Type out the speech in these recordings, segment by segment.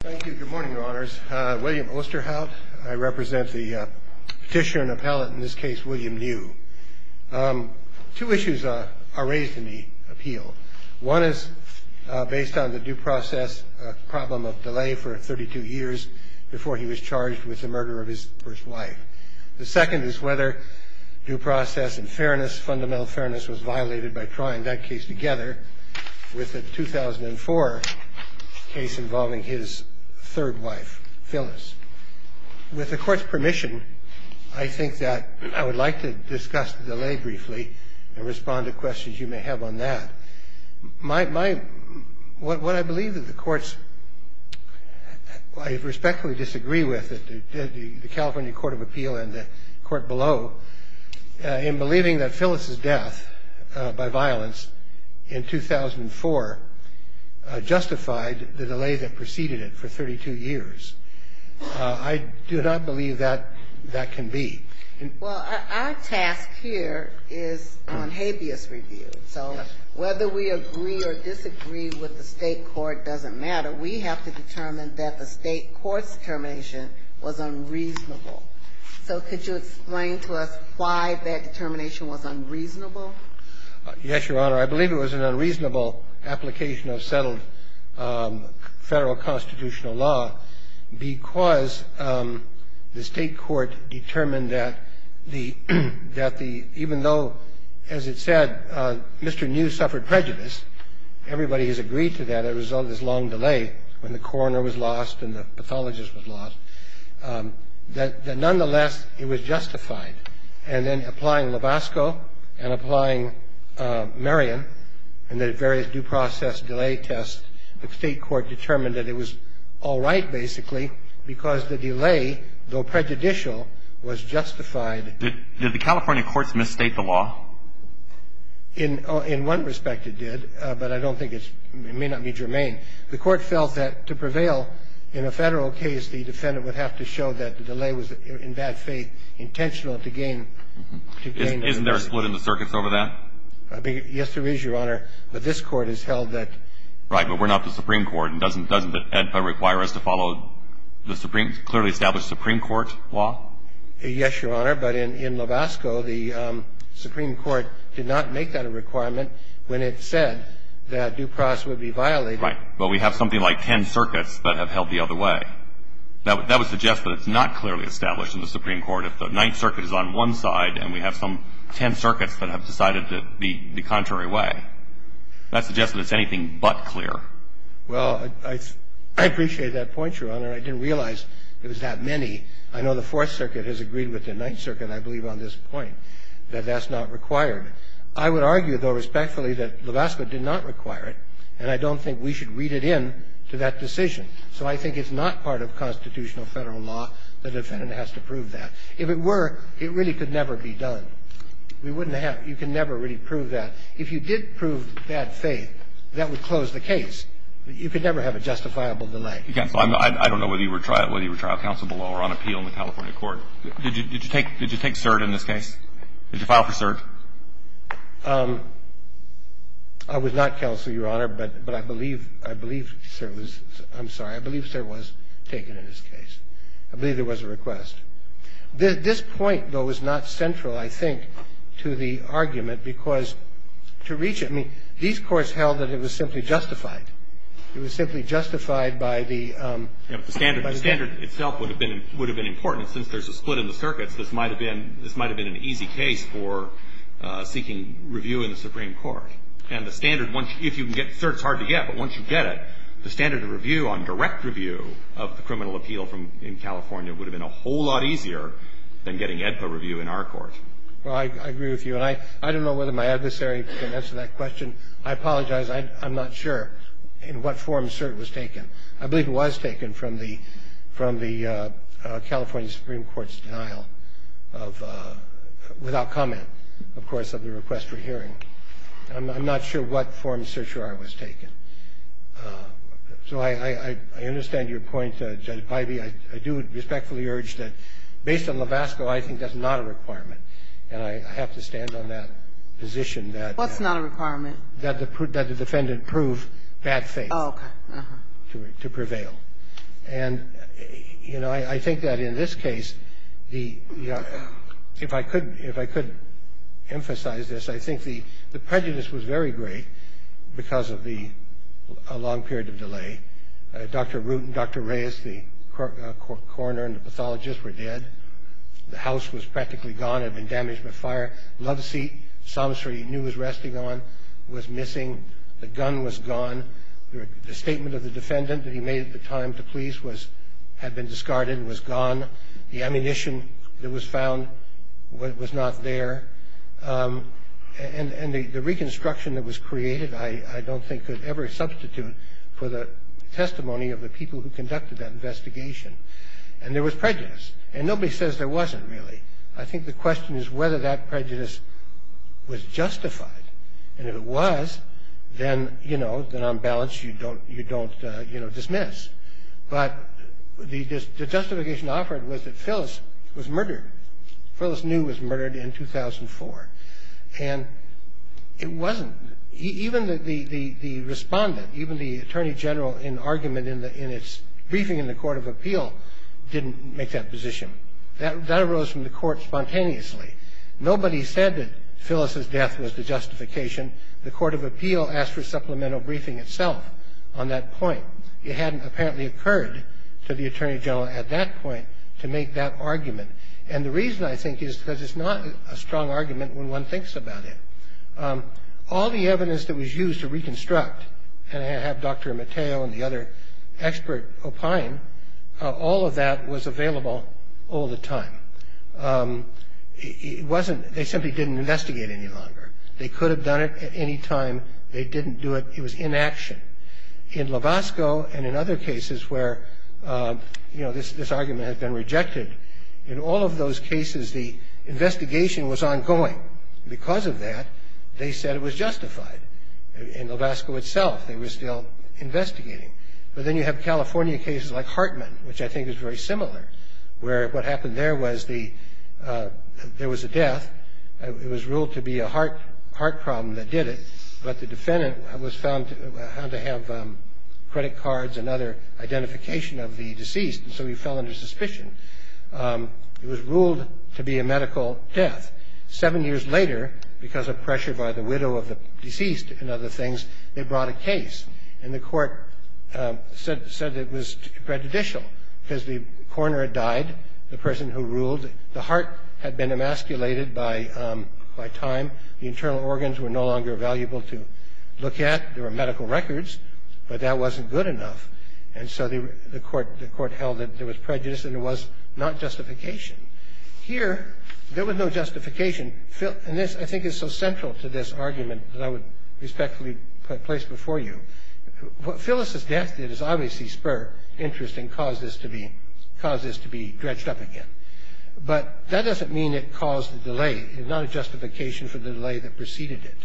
Thank you. Good morning, Your Honors. William Osterhout. I represent the petitioner and appellate in this case, William New. Two issues are raised in the appeal. One is based on the due process problem of delay for 32 years before he was charged with the murder of his first wife. The second is whether due process and fairness, fundamental fairness was violated by trying that case together with the 2004 case involving his third wife, Phyllis. With the court's permission, I think that I would like to discuss the delay briefly and respond to questions you may have on that. What I believe that the courts, I respectfully disagree with, the California Court of Appeal and the court below, in believing that Phyllis's death by violence in 2004 justified the delay that preceded it for 32 years. I do not believe that that can be. Well, our task here is on habeas review. So whether we agree or disagree with the state court doesn't matter. We have to determine that the state court's determination was unreasonable. So could you explain to us why that determination was unreasonable? Yes, Your Honor. I believe it was an unreasonable application of settled Federal constitutional law because the state court determined that the – that the – even though, as it said, Mr. New suffered prejudice, everybody has agreed to that as a result of this long delay when the coroner was lost and the pathologist was lost, that nonetheless, it was justified. And then applying Lobasco and applying Marion and the various due process delay tests, the state court determined that it was all right, basically, because the delay, though prejudicial, was justified. Did the California courts misstate the law? In one respect, it did, but I don't think it's – it may not be germane. The court felt that to prevail in a Federal case, the defendant would have to show that the delay was, in bad faith, intentional to gain – Isn't there a split in the circuits over that? Yes, there is, Your Honor. But this Court has held that – Right. But we're not the Supreme Court, and doesn't that require us to follow the clearly established Supreme Court law? Yes, Your Honor. But in Lobasco, the Supreme Court did not make that a requirement when it said that due process would be violated. Right. But we have something like ten circuits that have held the other way. That would suggest that it's not clearly established in the Supreme Court. If the Ninth Circuit is on one side and we have some ten circuits that have decided to be the contrary way, that suggests that it's anything but clear. Well, I appreciate that point, Your Honor. I didn't realize it was that many. I know the Fourth Circuit has agreed with the Ninth Circuit, I believe on this point, that that's not required. I would argue, though, respectfully, that Lobasco did not require it, and I don't think we should read it in to that decision. So I think it's not part of constitutional Federal law. The defendant has to prove that. If it were, it really could never be done. We wouldn't have – you can never really prove that. If you did prove bad faith, that would close the case. You could never have a justifiable delay. I don't know whether you were trial counsel below or on appeal in the California Did you take – did you take cert in this case? Did you file for cert? I was not counsel, Your Honor, but I believe – I believe cert was – I'm sorry. I believe cert was taken in this case. I believe there was a request. This point, though, is not central, I think, to the argument, because to reach it – I mean, these courts held that it was simply justified. It was simply justified by the – The standard itself would have been important, and since there's a split in the circuits, this might have been – this might have been an easy case for seeking review in the Supreme Court. And the standard, if you can get – cert's hard to get, but once you get it, the standard of review on direct review of the criminal appeal in California would have been a whole lot easier than getting AEDPA review in our court. Well, I agree with you, and I don't know whether my adversary can answer that question. I apologize. I'm not sure in what form cert was taken. I believe it was taken from the – from the California Supreme Court's denial of – without comment, of course, of the request for hearing. I'm not sure what form certiorari was taken. So I understand your point, Judge Ivey. I do respectfully urge that, based on Lovasco, I think that's not a requirement, and I have to stand on that position that – What's not a requirement? That the defendant prove bad faith. Oh, okay. To prevail. And, you know, I think that in this case, the – if I could – if I could emphasize this, I think the prejudice was very great because of the – a long period of delay. Dr. Root and Dr. Reyes, the coroner and the pathologist, were dead. The house was practically gone. It had been damaged by fire. Loveseat, Somerset he knew was resting on, was missing. The gun was gone. The statement of the defendant that he made at the time to police was – had been discarded and was gone. The ammunition that was found was not there. And the reconstruction that was created I don't think could ever substitute for the testimony of the people who conducted that investigation. And there was prejudice. And nobody says there wasn't, really. I think the question is whether that prejudice was justified. And if it was, then, you know, then on balance you don't, you know, dismiss. But the justification offered was that Phyllis was murdered. Phyllis New was murdered in 2004. And it wasn't – even the respondent, even the attorney general in argument in its briefing in the court of appeal didn't make that position. That arose from the court spontaneously. Nobody said that Phyllis's death was the justification. The court of appeal asked for supplemental briefing itself on that point. It hadn't apparently occurred to the attorney general at that point to make that argument. And the reason, I think, is because it's not a strong argument when one thinks about it. All the evidence that was used to reconstruct, and I have Dr. Mateo and the other expert opine, all of that was available all the time. It wasn't – they simply didn't investigate any longer. They could have done it at any time. They didn't do it. It was inaction. In Lovasco and in other cases where, you know, this argument has been rejected, in all of those cases the investigation was ongoing. Because of that, they said it was justified. In Lovasco itself, they were still investigating. But then you have California cases like Hartman, which I think is very similar, where what happened there was there was a death. It was ruled to be a heart problem that did it, but the defendant was found to have credit cards and other identification of the deceased, and so he fell under suspicion. It was ruled to be a medical death. Seven years later, because of pressure by the widow of the deceased and other things, they brought a case. And the court said it was prejudicial because the coroner had died, the person who ruled. The heart had been emasculated by time. The internal organs were no longer valuable to look at. There were medical records, but that wasn't good enough. And so the court held that there was prejudice and there was not justification. Here, there was no justification. And this, I think, is so central to this argument that I would respectfully place before you. What Phyllis's death did is obviously spur interest and cause this to be dredged up again. But that doesn't mean it caused the delay. It's not a justification for the delay that preceded it.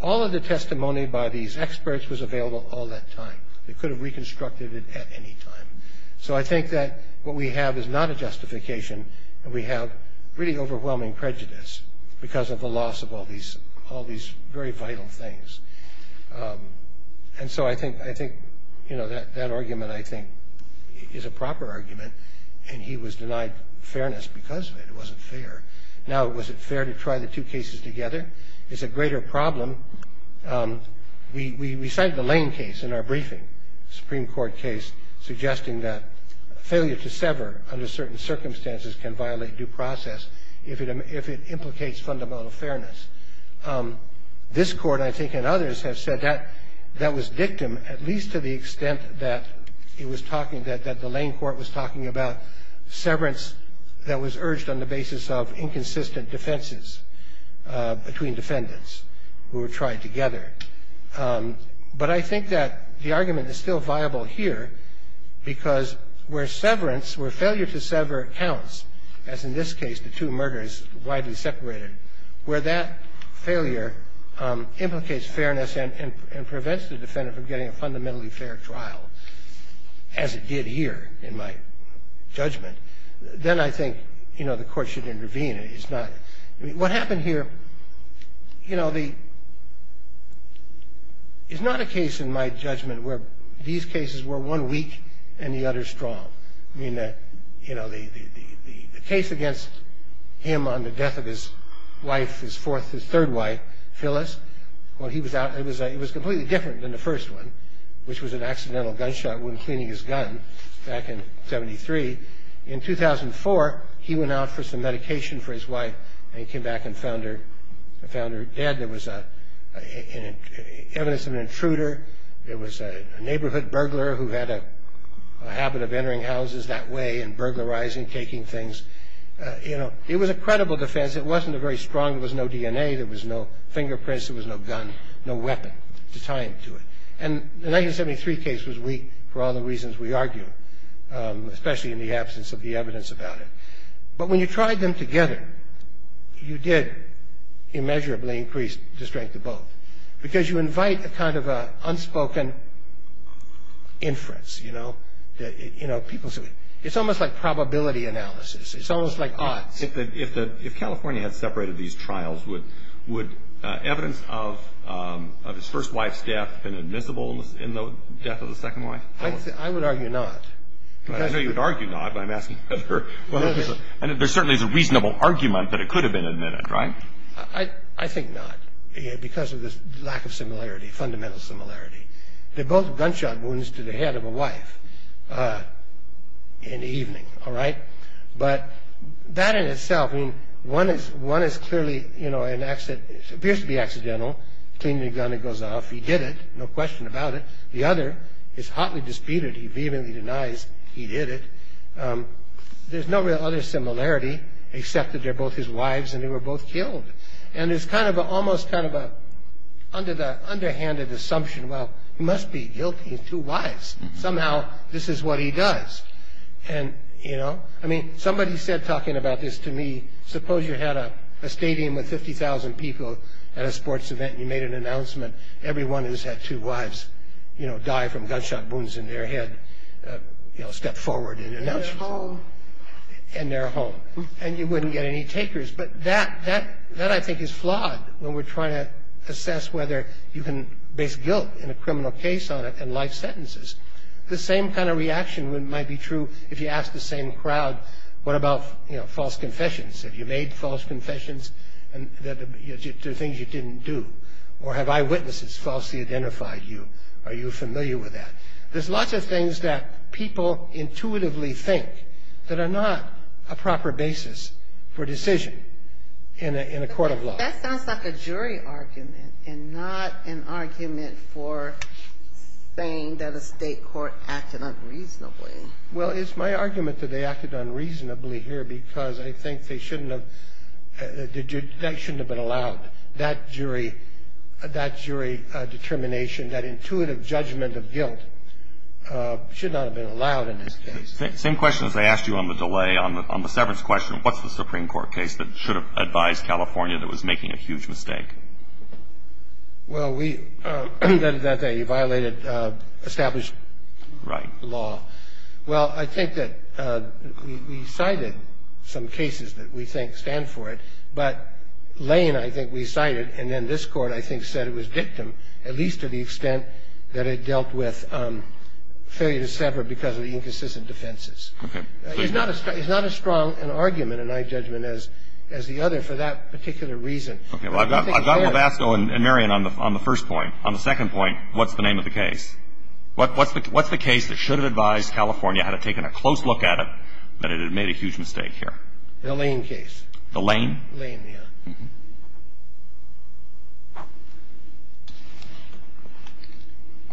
All of the testimony by these experts was available all that time. They could have reconstructed it at any time. So I think that what we have is not a justification. And we have really overwhelming prejudice because of the loss of all these very vital things. And so I think that argument, I think, is a proper argument. And he was denied fairness because of it. It wasn't fair. Now, was it fair to try the two cases together? It's a greater problem. We cite the Lane case in our briefing, Supreme Court case, suggesting that failure to sever under certain circumstances can violate due process if it implicates fundamental fairness. This Court, I think, and others have said that that was dictum, at least to the extent that it was talking that the Lane Court was talking about severance that was urged on the basis of inconsistent defenses between defendants who were tried together. But I think that the argument is still viable here because where severance, where failure to sever counts, as in this case the two murders widely separated, where that failure implicates fairness and prevents the defendant from getting a fundamentally fair trial, as it did here in my judgment, then I think, you know, the Court should intervene. I mean, what happened here, you know, is not a case, in my judgment, where these cases were one weak and the other strong. I mean, you know, the case against him on the death of his wife, his third wife, Phyllis, when he was out, it was completely different than the first one, which was an accidental gunshot wound cleaning his gun back in 73. In 2004, he went out for some medication for his wife and he came back and found her dead. There was evidence of an intruder. There was a neighborhood burglar who had a habit of entering houses that way and burglarizing, taking things. You know, it was a credible defense. It wasn't a very strong, there was no DNA, there was no fingerprints, there was no gun, no weapon to tie him to it. And the 1973 case was weak for all the reasons we argue, especially in the absence of the evidence about it. But when you tried them together, you did immeasurably increase the strength of both because you invite a kind of an unspoken inference, you know. It's almost like probability analysis. It's almost like odds. If California had separated these trials, would evidence of his first wife's death have been admissible in the death of the second wife? I would argue not. I know you would argue not, but I'm asking whether. There certainly is a reasonable argument that it could have been admitted, right? I think not because of this lack of similarity, fundamental similarity. They're both gunshot wounds to the head of a wife in the evening, all right? But that in itself, I mean, one is clearly, you know, an accident. It appears to be accidental. Clean the gun, it goes off. He did it, no question about it. The other is hotly disputed. He vehemently denies he did it. There's no real other similarity except that they're both his wives and they were both killed. And it's kind of almost kind of an underhanded assumption. Well, he must be guilty of two wives. Somehow this is what he does. And, you know, I mean, somebody said talking about this to me, suppose you had a stadium with 50,000 people at a sports event. You made an announcement, everyone who's had two wives, you know, die from gunshot wounds in their head, you know, step forward and announce. And they're home. And they're home. And you wouldn't get any takers. But that I think is flawed when we're trying to assess whether you can base guilt in a criminal case on it and life sentences. The same kind of reaction might be true if you ask the same crowd, what about, you know, false confessions? Have you made false confessions to things you didn't do? Or have eyewitnesses falsely identified you? Are you familiar with that? There's lots of things that people intuitively think that are not a proper basis for decision in a court of law. That sounds like a jury argument and not an argument for saying that a state court acted unreasonably. Well, it's my argument that they acted unreasonably here because I think that shouldn't have been allowed. That jury determination, that intuitive judgment of guilt should not have been allowed in this case. Same question as I asked you on the delay, on the severance question, what's the Supreme Court case that should have advised California that was making a huge mistake? Well, we – that they violated established law. Right. Well, I think that we cited some cases that we think stand for it. But Lane, I think, we cited, and then this Court, I think, said it was victim, at least to the extent that it dealt with failure to sever because of the inconsistent defenses. Okay. It's not as strong an argument, in my judgment, as the other for that particular reason. Okay. Well, I've got Webasto and Marion on the first point. On the second point, what's the name of the case? What's the case that should have advised California, had it taken a close look at it, that it had made a huge mistake here? The Lane case. The Lane? Lane, yeah.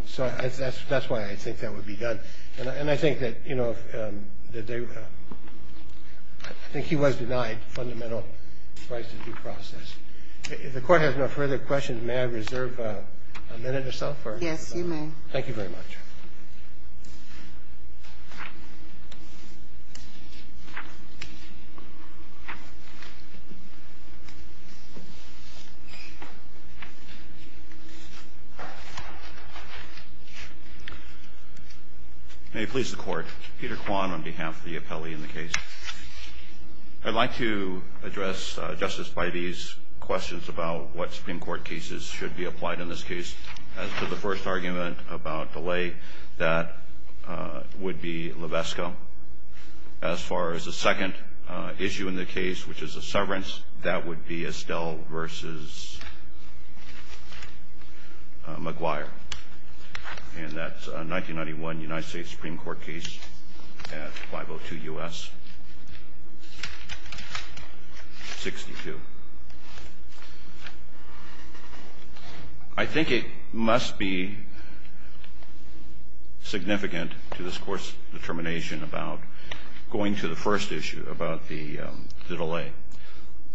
So that's why I think that would be done. And I think that, you know, that they – I think he was denied fundamental rights to due process. If the Court has no further questions, may I reserve a minute or so for it? Yes, you may. Thank you very much. May it please the Court. Peter Kwan on behalf of the appellee in the case. I'd like to address, Justice, by these questions about what Supreme Court cases should be applied in this case. As to the first argument about delay, that would be Lovesco. As far as the second issue in the case, which is a severance, that would be Estelle v. McGuire. And that's a 1991 United States Supreme Court case at 502 U.S. 62. I think it must be significant to this Court's determination about going to the first issue, about the delay.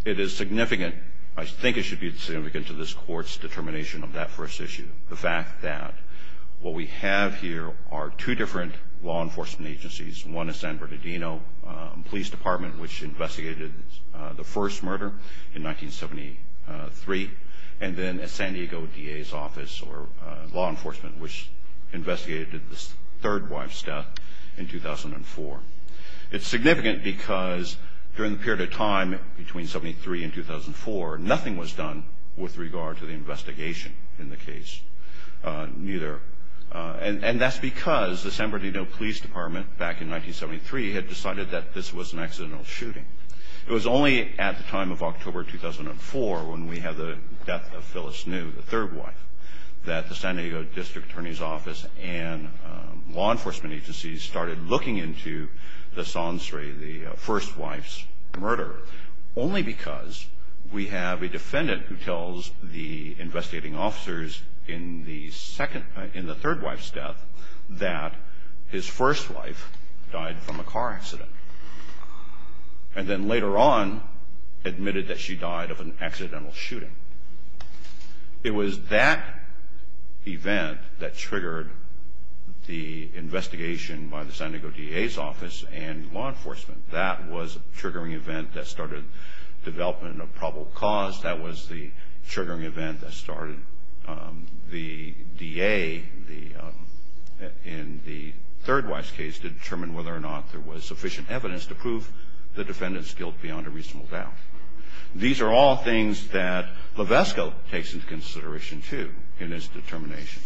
It is significant – I think it should be significant to this Court's determination of that first issue, the fact that what we have here are two different law enforcement agencies. One is San Bernardino Police Department, which investigated the first murder in 1973. And then San Diego DA's Office, or law enforcement, which investigated the third wife's death in 2004. It's significant because during the period of time between 73 and 2004, nothing was done with regard to the investigation in the case, neither. And that's because the San Bernardino Police Department, back in 1973, had decided that this was an accidental shooting. It was only at the time of October 2004, when we have the death of Phyllis New, the third wife, that the San Diego District Attorney's Office and law enforcement agencies started looking into the sons, sorry, the first wife's murder, only because we have a defendant who tells the investigating officers in the third wife's death that his first wife died from a car accident, and then later on admitted that she died of an accidental shooting. It was that event that triggered the investigation by the San Diego DA's Office and law enforcement. That was a triggering event that started development of probable cause. That was the triggering event that started the DA, in the third wife's case, to determine whether or not there was sufficient evidence to prove the defendant's guilt beyond a reasonable doubt. These are all things that Levesque takes into consideration, too, in his determination,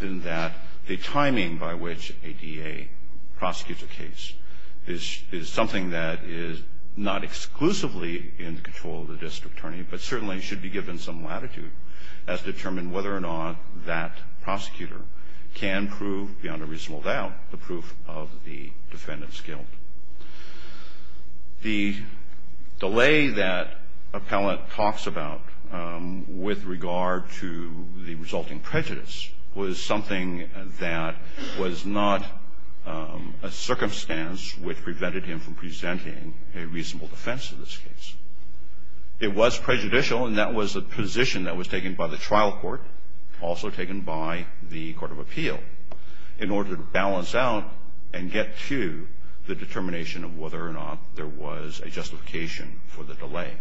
in that the timing by which a DA prosecutes a case is something that is not exclusively in control of the district attorney, but certainly should be given some latitude as to determine whether or not that prosecutor can prove, beyond a reasonable doubt, the proof of the defendant's guilt. The delay that Appellant talks about with regard to the resulting prejudice was something that was not a circumstance which prevented him from presenting a reasonable defense in this case. It was prejudicial, and that was a position that was taken by the trial court, also taken by the Court of Appeal, in order to balance out and get to the determination of whether or not there was a justification for the delay.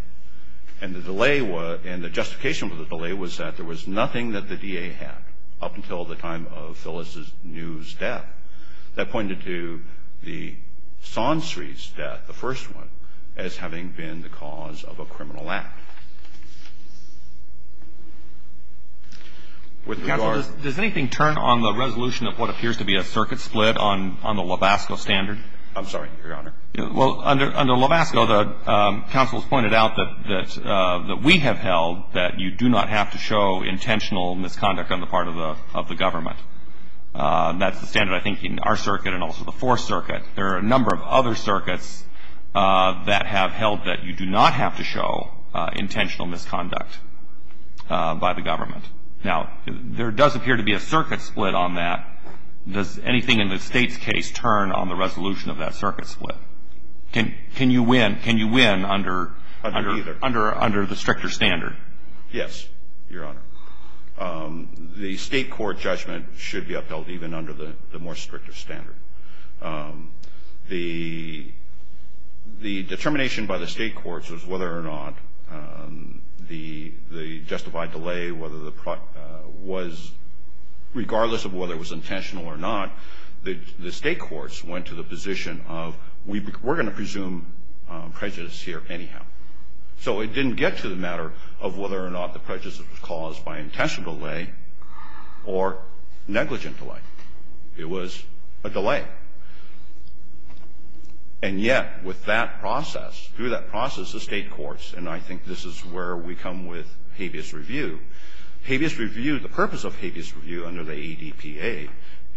And the delay was – and the justification for the delay was that there was nothing that the DA had, up until the time of Phyllis New's death. That pointed to the Sonsreid's death, the first one, as having been the cause of a criminal act. With regard to the law. Roberts. Does anything turn on the resolution of what appears to be a circuit split on the Lubasco standard? I'm sorry, Your Honor. Well, under Lubasco, the counsel has pointed out that we have held that you do not have to show intentional misconduct on the part of the government. That's the standard, I think, in our circuit and also the Fourth Circuit. There are a number of other circuits that have held that you do not have to show intentional misconduct by the government. Now, there does appear to be a circuit split on that. Does anything in the State's case turn on the resolution of that circuit split? Can you win under the stricter standard? Yes, Your Honor. The State court judgment should be upheld even under the more stricter standard. The determination by the State courts was whether or not the justified delay, whether the was, regardless of whether it was intentional or not, the State courts went to the position of we're going to presume prejudice here anyhow. So it didn't get to the matter of whether or not the prejudice was caused by intentional delay or negligent delay. It was a delay. And yet, with that process, through that process, the State courts, and I think this is where we come with habeas review. Habeas review, the purpose of habeas review under the ADPA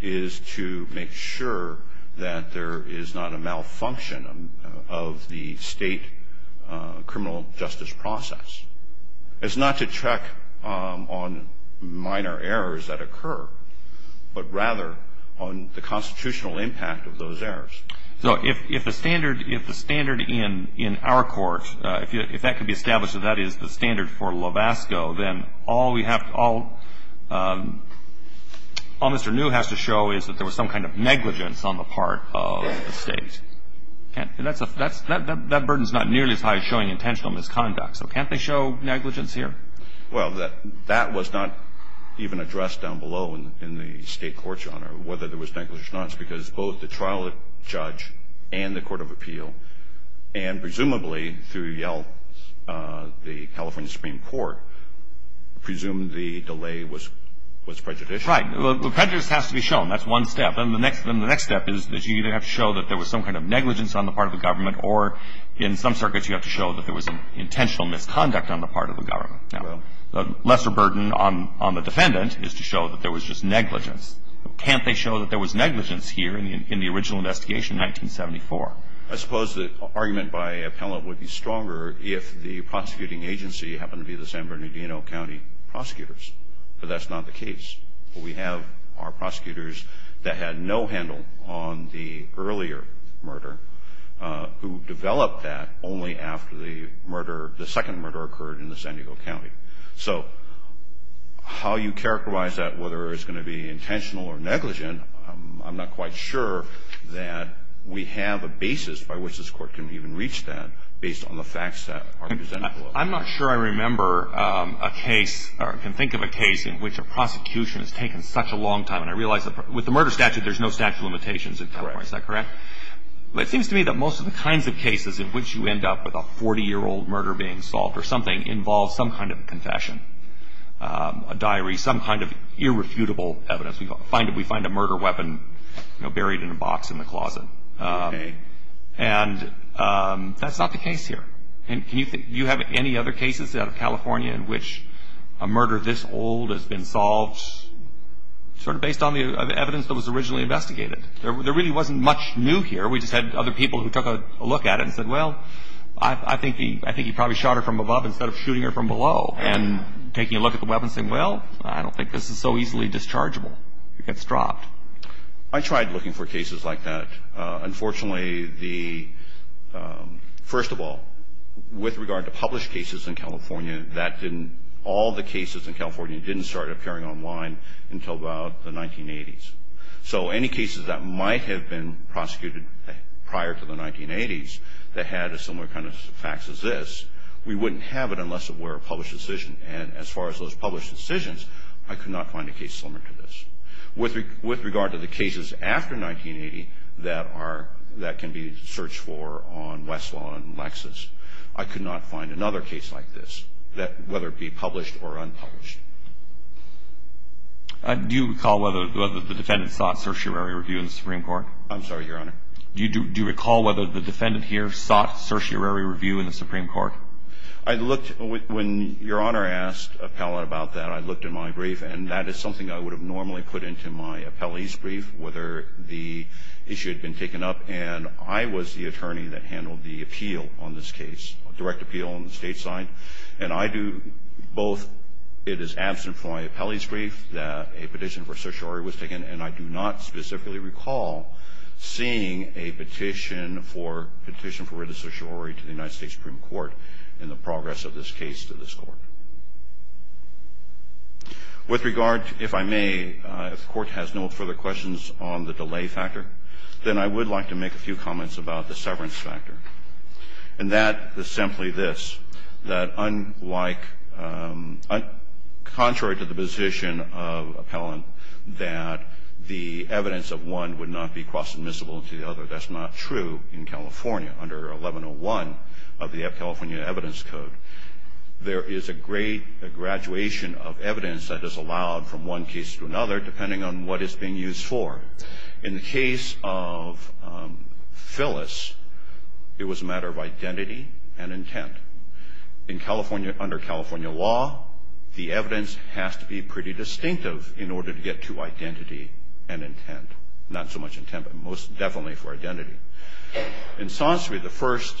is to make sure that there is not a malfunction of the State criminal justice process. It's not to check on minor errors that occur, but rather on the constitutional impact of those errors. So if the standard in our court, if that could be established that that is the standard for Lovasco, then all we have to all Mr. New has to show is that there was some kind of negligence on the part of the State. That burden is not nearly as high as showing intentional misconduct. So can't they show negligence here? Well, that was not even addressed down below in the State court, Your Honor, whether there was negligence or not. It's because both the trial judge and the court of appeal, and presumably through Yale, the California Supreme Court, presumed the delay was prejudicial. Right. Well, prejudice has to be shown. That's one step. And the next step is that you either have to show that there was some kind of negligence on the part of the government, or in some circuits you have to show that there was intentional misconduct on the part of the government. Well. Now, the lesser burden on the defendant is to show that there was just negligence. Can't they show that there was negligence here in the original investigation in 1974? I suppose the argument by appellant would be stronger if the prosecuting agency happened to be the San Bernardino County prosecutors. But that's not the case. What we have are prosecutors that had no handle on the earlier murder, who developed that only after the murder, the second murder occurred in the San Diego County. So how you characterize that, whether it's going to be intentional or negligent, I'm not quite sure that we have a basis by which this court can even reach that based on the facts that are presented. I'm not sure I remember a case or can think of a case in which a prosecution has taken such a long time. And I realize with the murder statute there's no statute of limitations. Is that correct? It seems to me that most of the kinds of cases in which you end up with a 40-year-old murder being solved or something involves some kind of confession, a diary, some kind of irrefutable evidence. We find a murder weapon buried in a box in the closet. And that's not the case here. And do you have any other cases out of California in which a murder this old has been solved sort of based on the evidence that was originally investigated? There really wasn't much new here. We just had other people who took a look at it and said, well, I think he probably shot her from above instead of shooting her from below. And taking a look at the weapon and saying, well, I don't think this is so easily dischargeable. It gets dropped. I tried looking for cases like that. Unfortunately, first of all, with regard to published cases in California, all the cases in California didn't start appearing online until about the 1980s. So any cases that might have been prosecuted prior to the 1980s that had a similar kind of facts as this, we wouldn't have it unless it were a published decision. And as far as those published decisions, I could not find a case similar to this. With regard to the cases after 1980 that can be searched for on Westlaw and Lexis, I could not find another case like this, whether it be published or unpublished. Do you recall whether the defendant sought certiorari review in the Supreme Court? I'm sorry, Your Honor. Do you recall whether the defendant here sought certiorari review in the Supreme Court? When Your Honor asked Appellant about that, I looked in my brief, and that is something I would have normally put into my appellee's brief, whether the issue had been taken up. And I was the attorney that handled the appeal on this case, direct appeal on the state side. And I do both. It is absent from my appellee's brief that a petition for certiorari was taken, and I do not specifically recall seeing a petition for written certiorari to the United States Supreme Court in the progress of this case to this Court. With regard, if I may, if the Court has no further questions on the delay factor, then I would like to make a few comments about the severance factor. And that is simply this, that unlike – contrary to the position of Appellant that the evidence of one would not be cross-admissible to the other, that's not true in California. Under 1101 of the California Evidence Code, there is a graduation of evidence that is allowed from one case to another, depending on what is being used for. In the case of Phyllis, it was a matter of identity and intent. Under California law, the evidence has to be pretty distinctive in order to get to identity and intent. Not so much intent, but most definitely for identity. In Sonseri, the first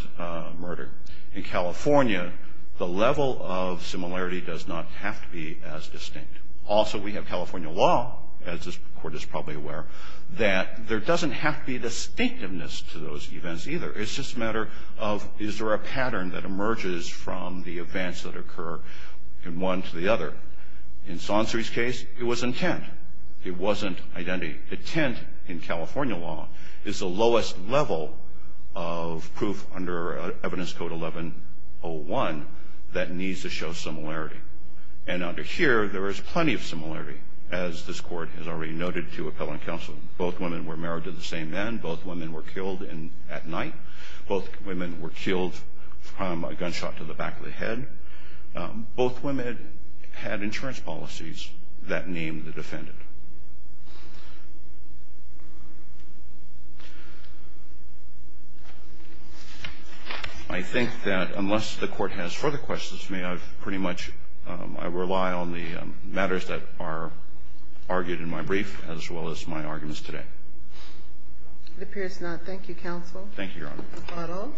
murder, in California, the level of similarity does not have to be as distinct. Also, we have California law, as this Court is probably aware, that there doesn't have to be distinctiveness to those events either. It's just a matter of is there a pattern that emerges from the events that occur in one to the other. In Sonseri's case, it was intent. It wasn't identity. Intent in California law is the lowest level of proof under Evidence Code 1101 that needs to show similarity. And under here, there is plenty of similarity, as this Court has already noted to appellant counsel. Both women were married to the same man. Both women were killed at night. Both women were killed from a gunshot to the back of the head. Both women had insurance policies that named the defendant. I think that unless the Court has further questions, may I pretty much rely on the matters that are argued in my brief as well as my arguments today. It appears not. Thank you, counsel. Thank you, Your Honor. Pardon?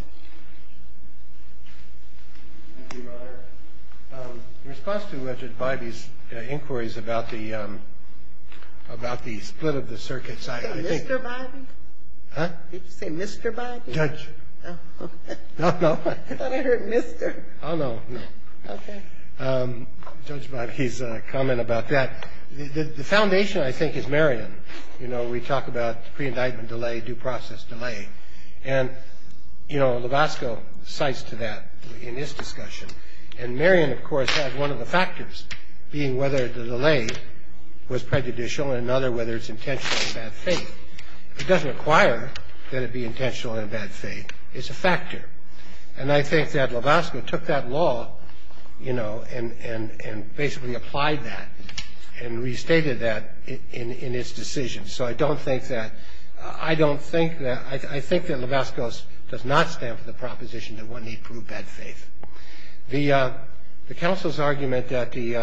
Thank you, Your Honor. In response to Judge Bybee's inquiries about the split of the circuits, I think... Did you say Mr. Bybee? Huh? Did you say Mr. Bybee? Judge. Oh, okay. No, no. I thought I heard Mr. Oh, no, no. Okay. Judge Bybee's comment about that. The foundation, I think, is Marion. You know, we talk about pre-indictment delay, due process delay. And, you know, Lovasco cites to that in his discussion. And Marion, of course, has one of the factors being whether the delay was prejudicial and another whether it's intentional in bad faith. It doesn't require that it be intentional in bad faith. It's a factor. And I think that Lovasco took that law, you know, and basically applied that and restated that in his decision. So I don't think that... I don't think that... I think that Lovasco does not stand for the proposition that one need prove bad faith. The counsel's argument that the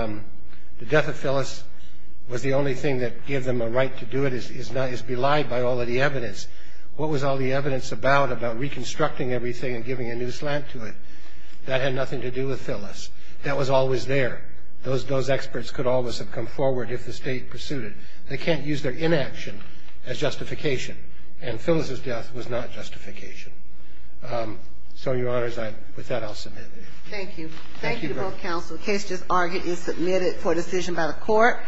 death of Phyllis was the only thing that gave them a right to do it is belied by all of the evidence. What was all the evidence about, about reconstructing everything and giving a new slant to it? That had nothing to do with Phyllis. That was always there. Those experts could always have come forward if the state pursued it. They can't use their inaction as justification. And Phyllis's death was not justification. So, Your Honors, with that, I'll submit it. Thank you. Thank you both counsel. The case just argued is submitted for decision by the court.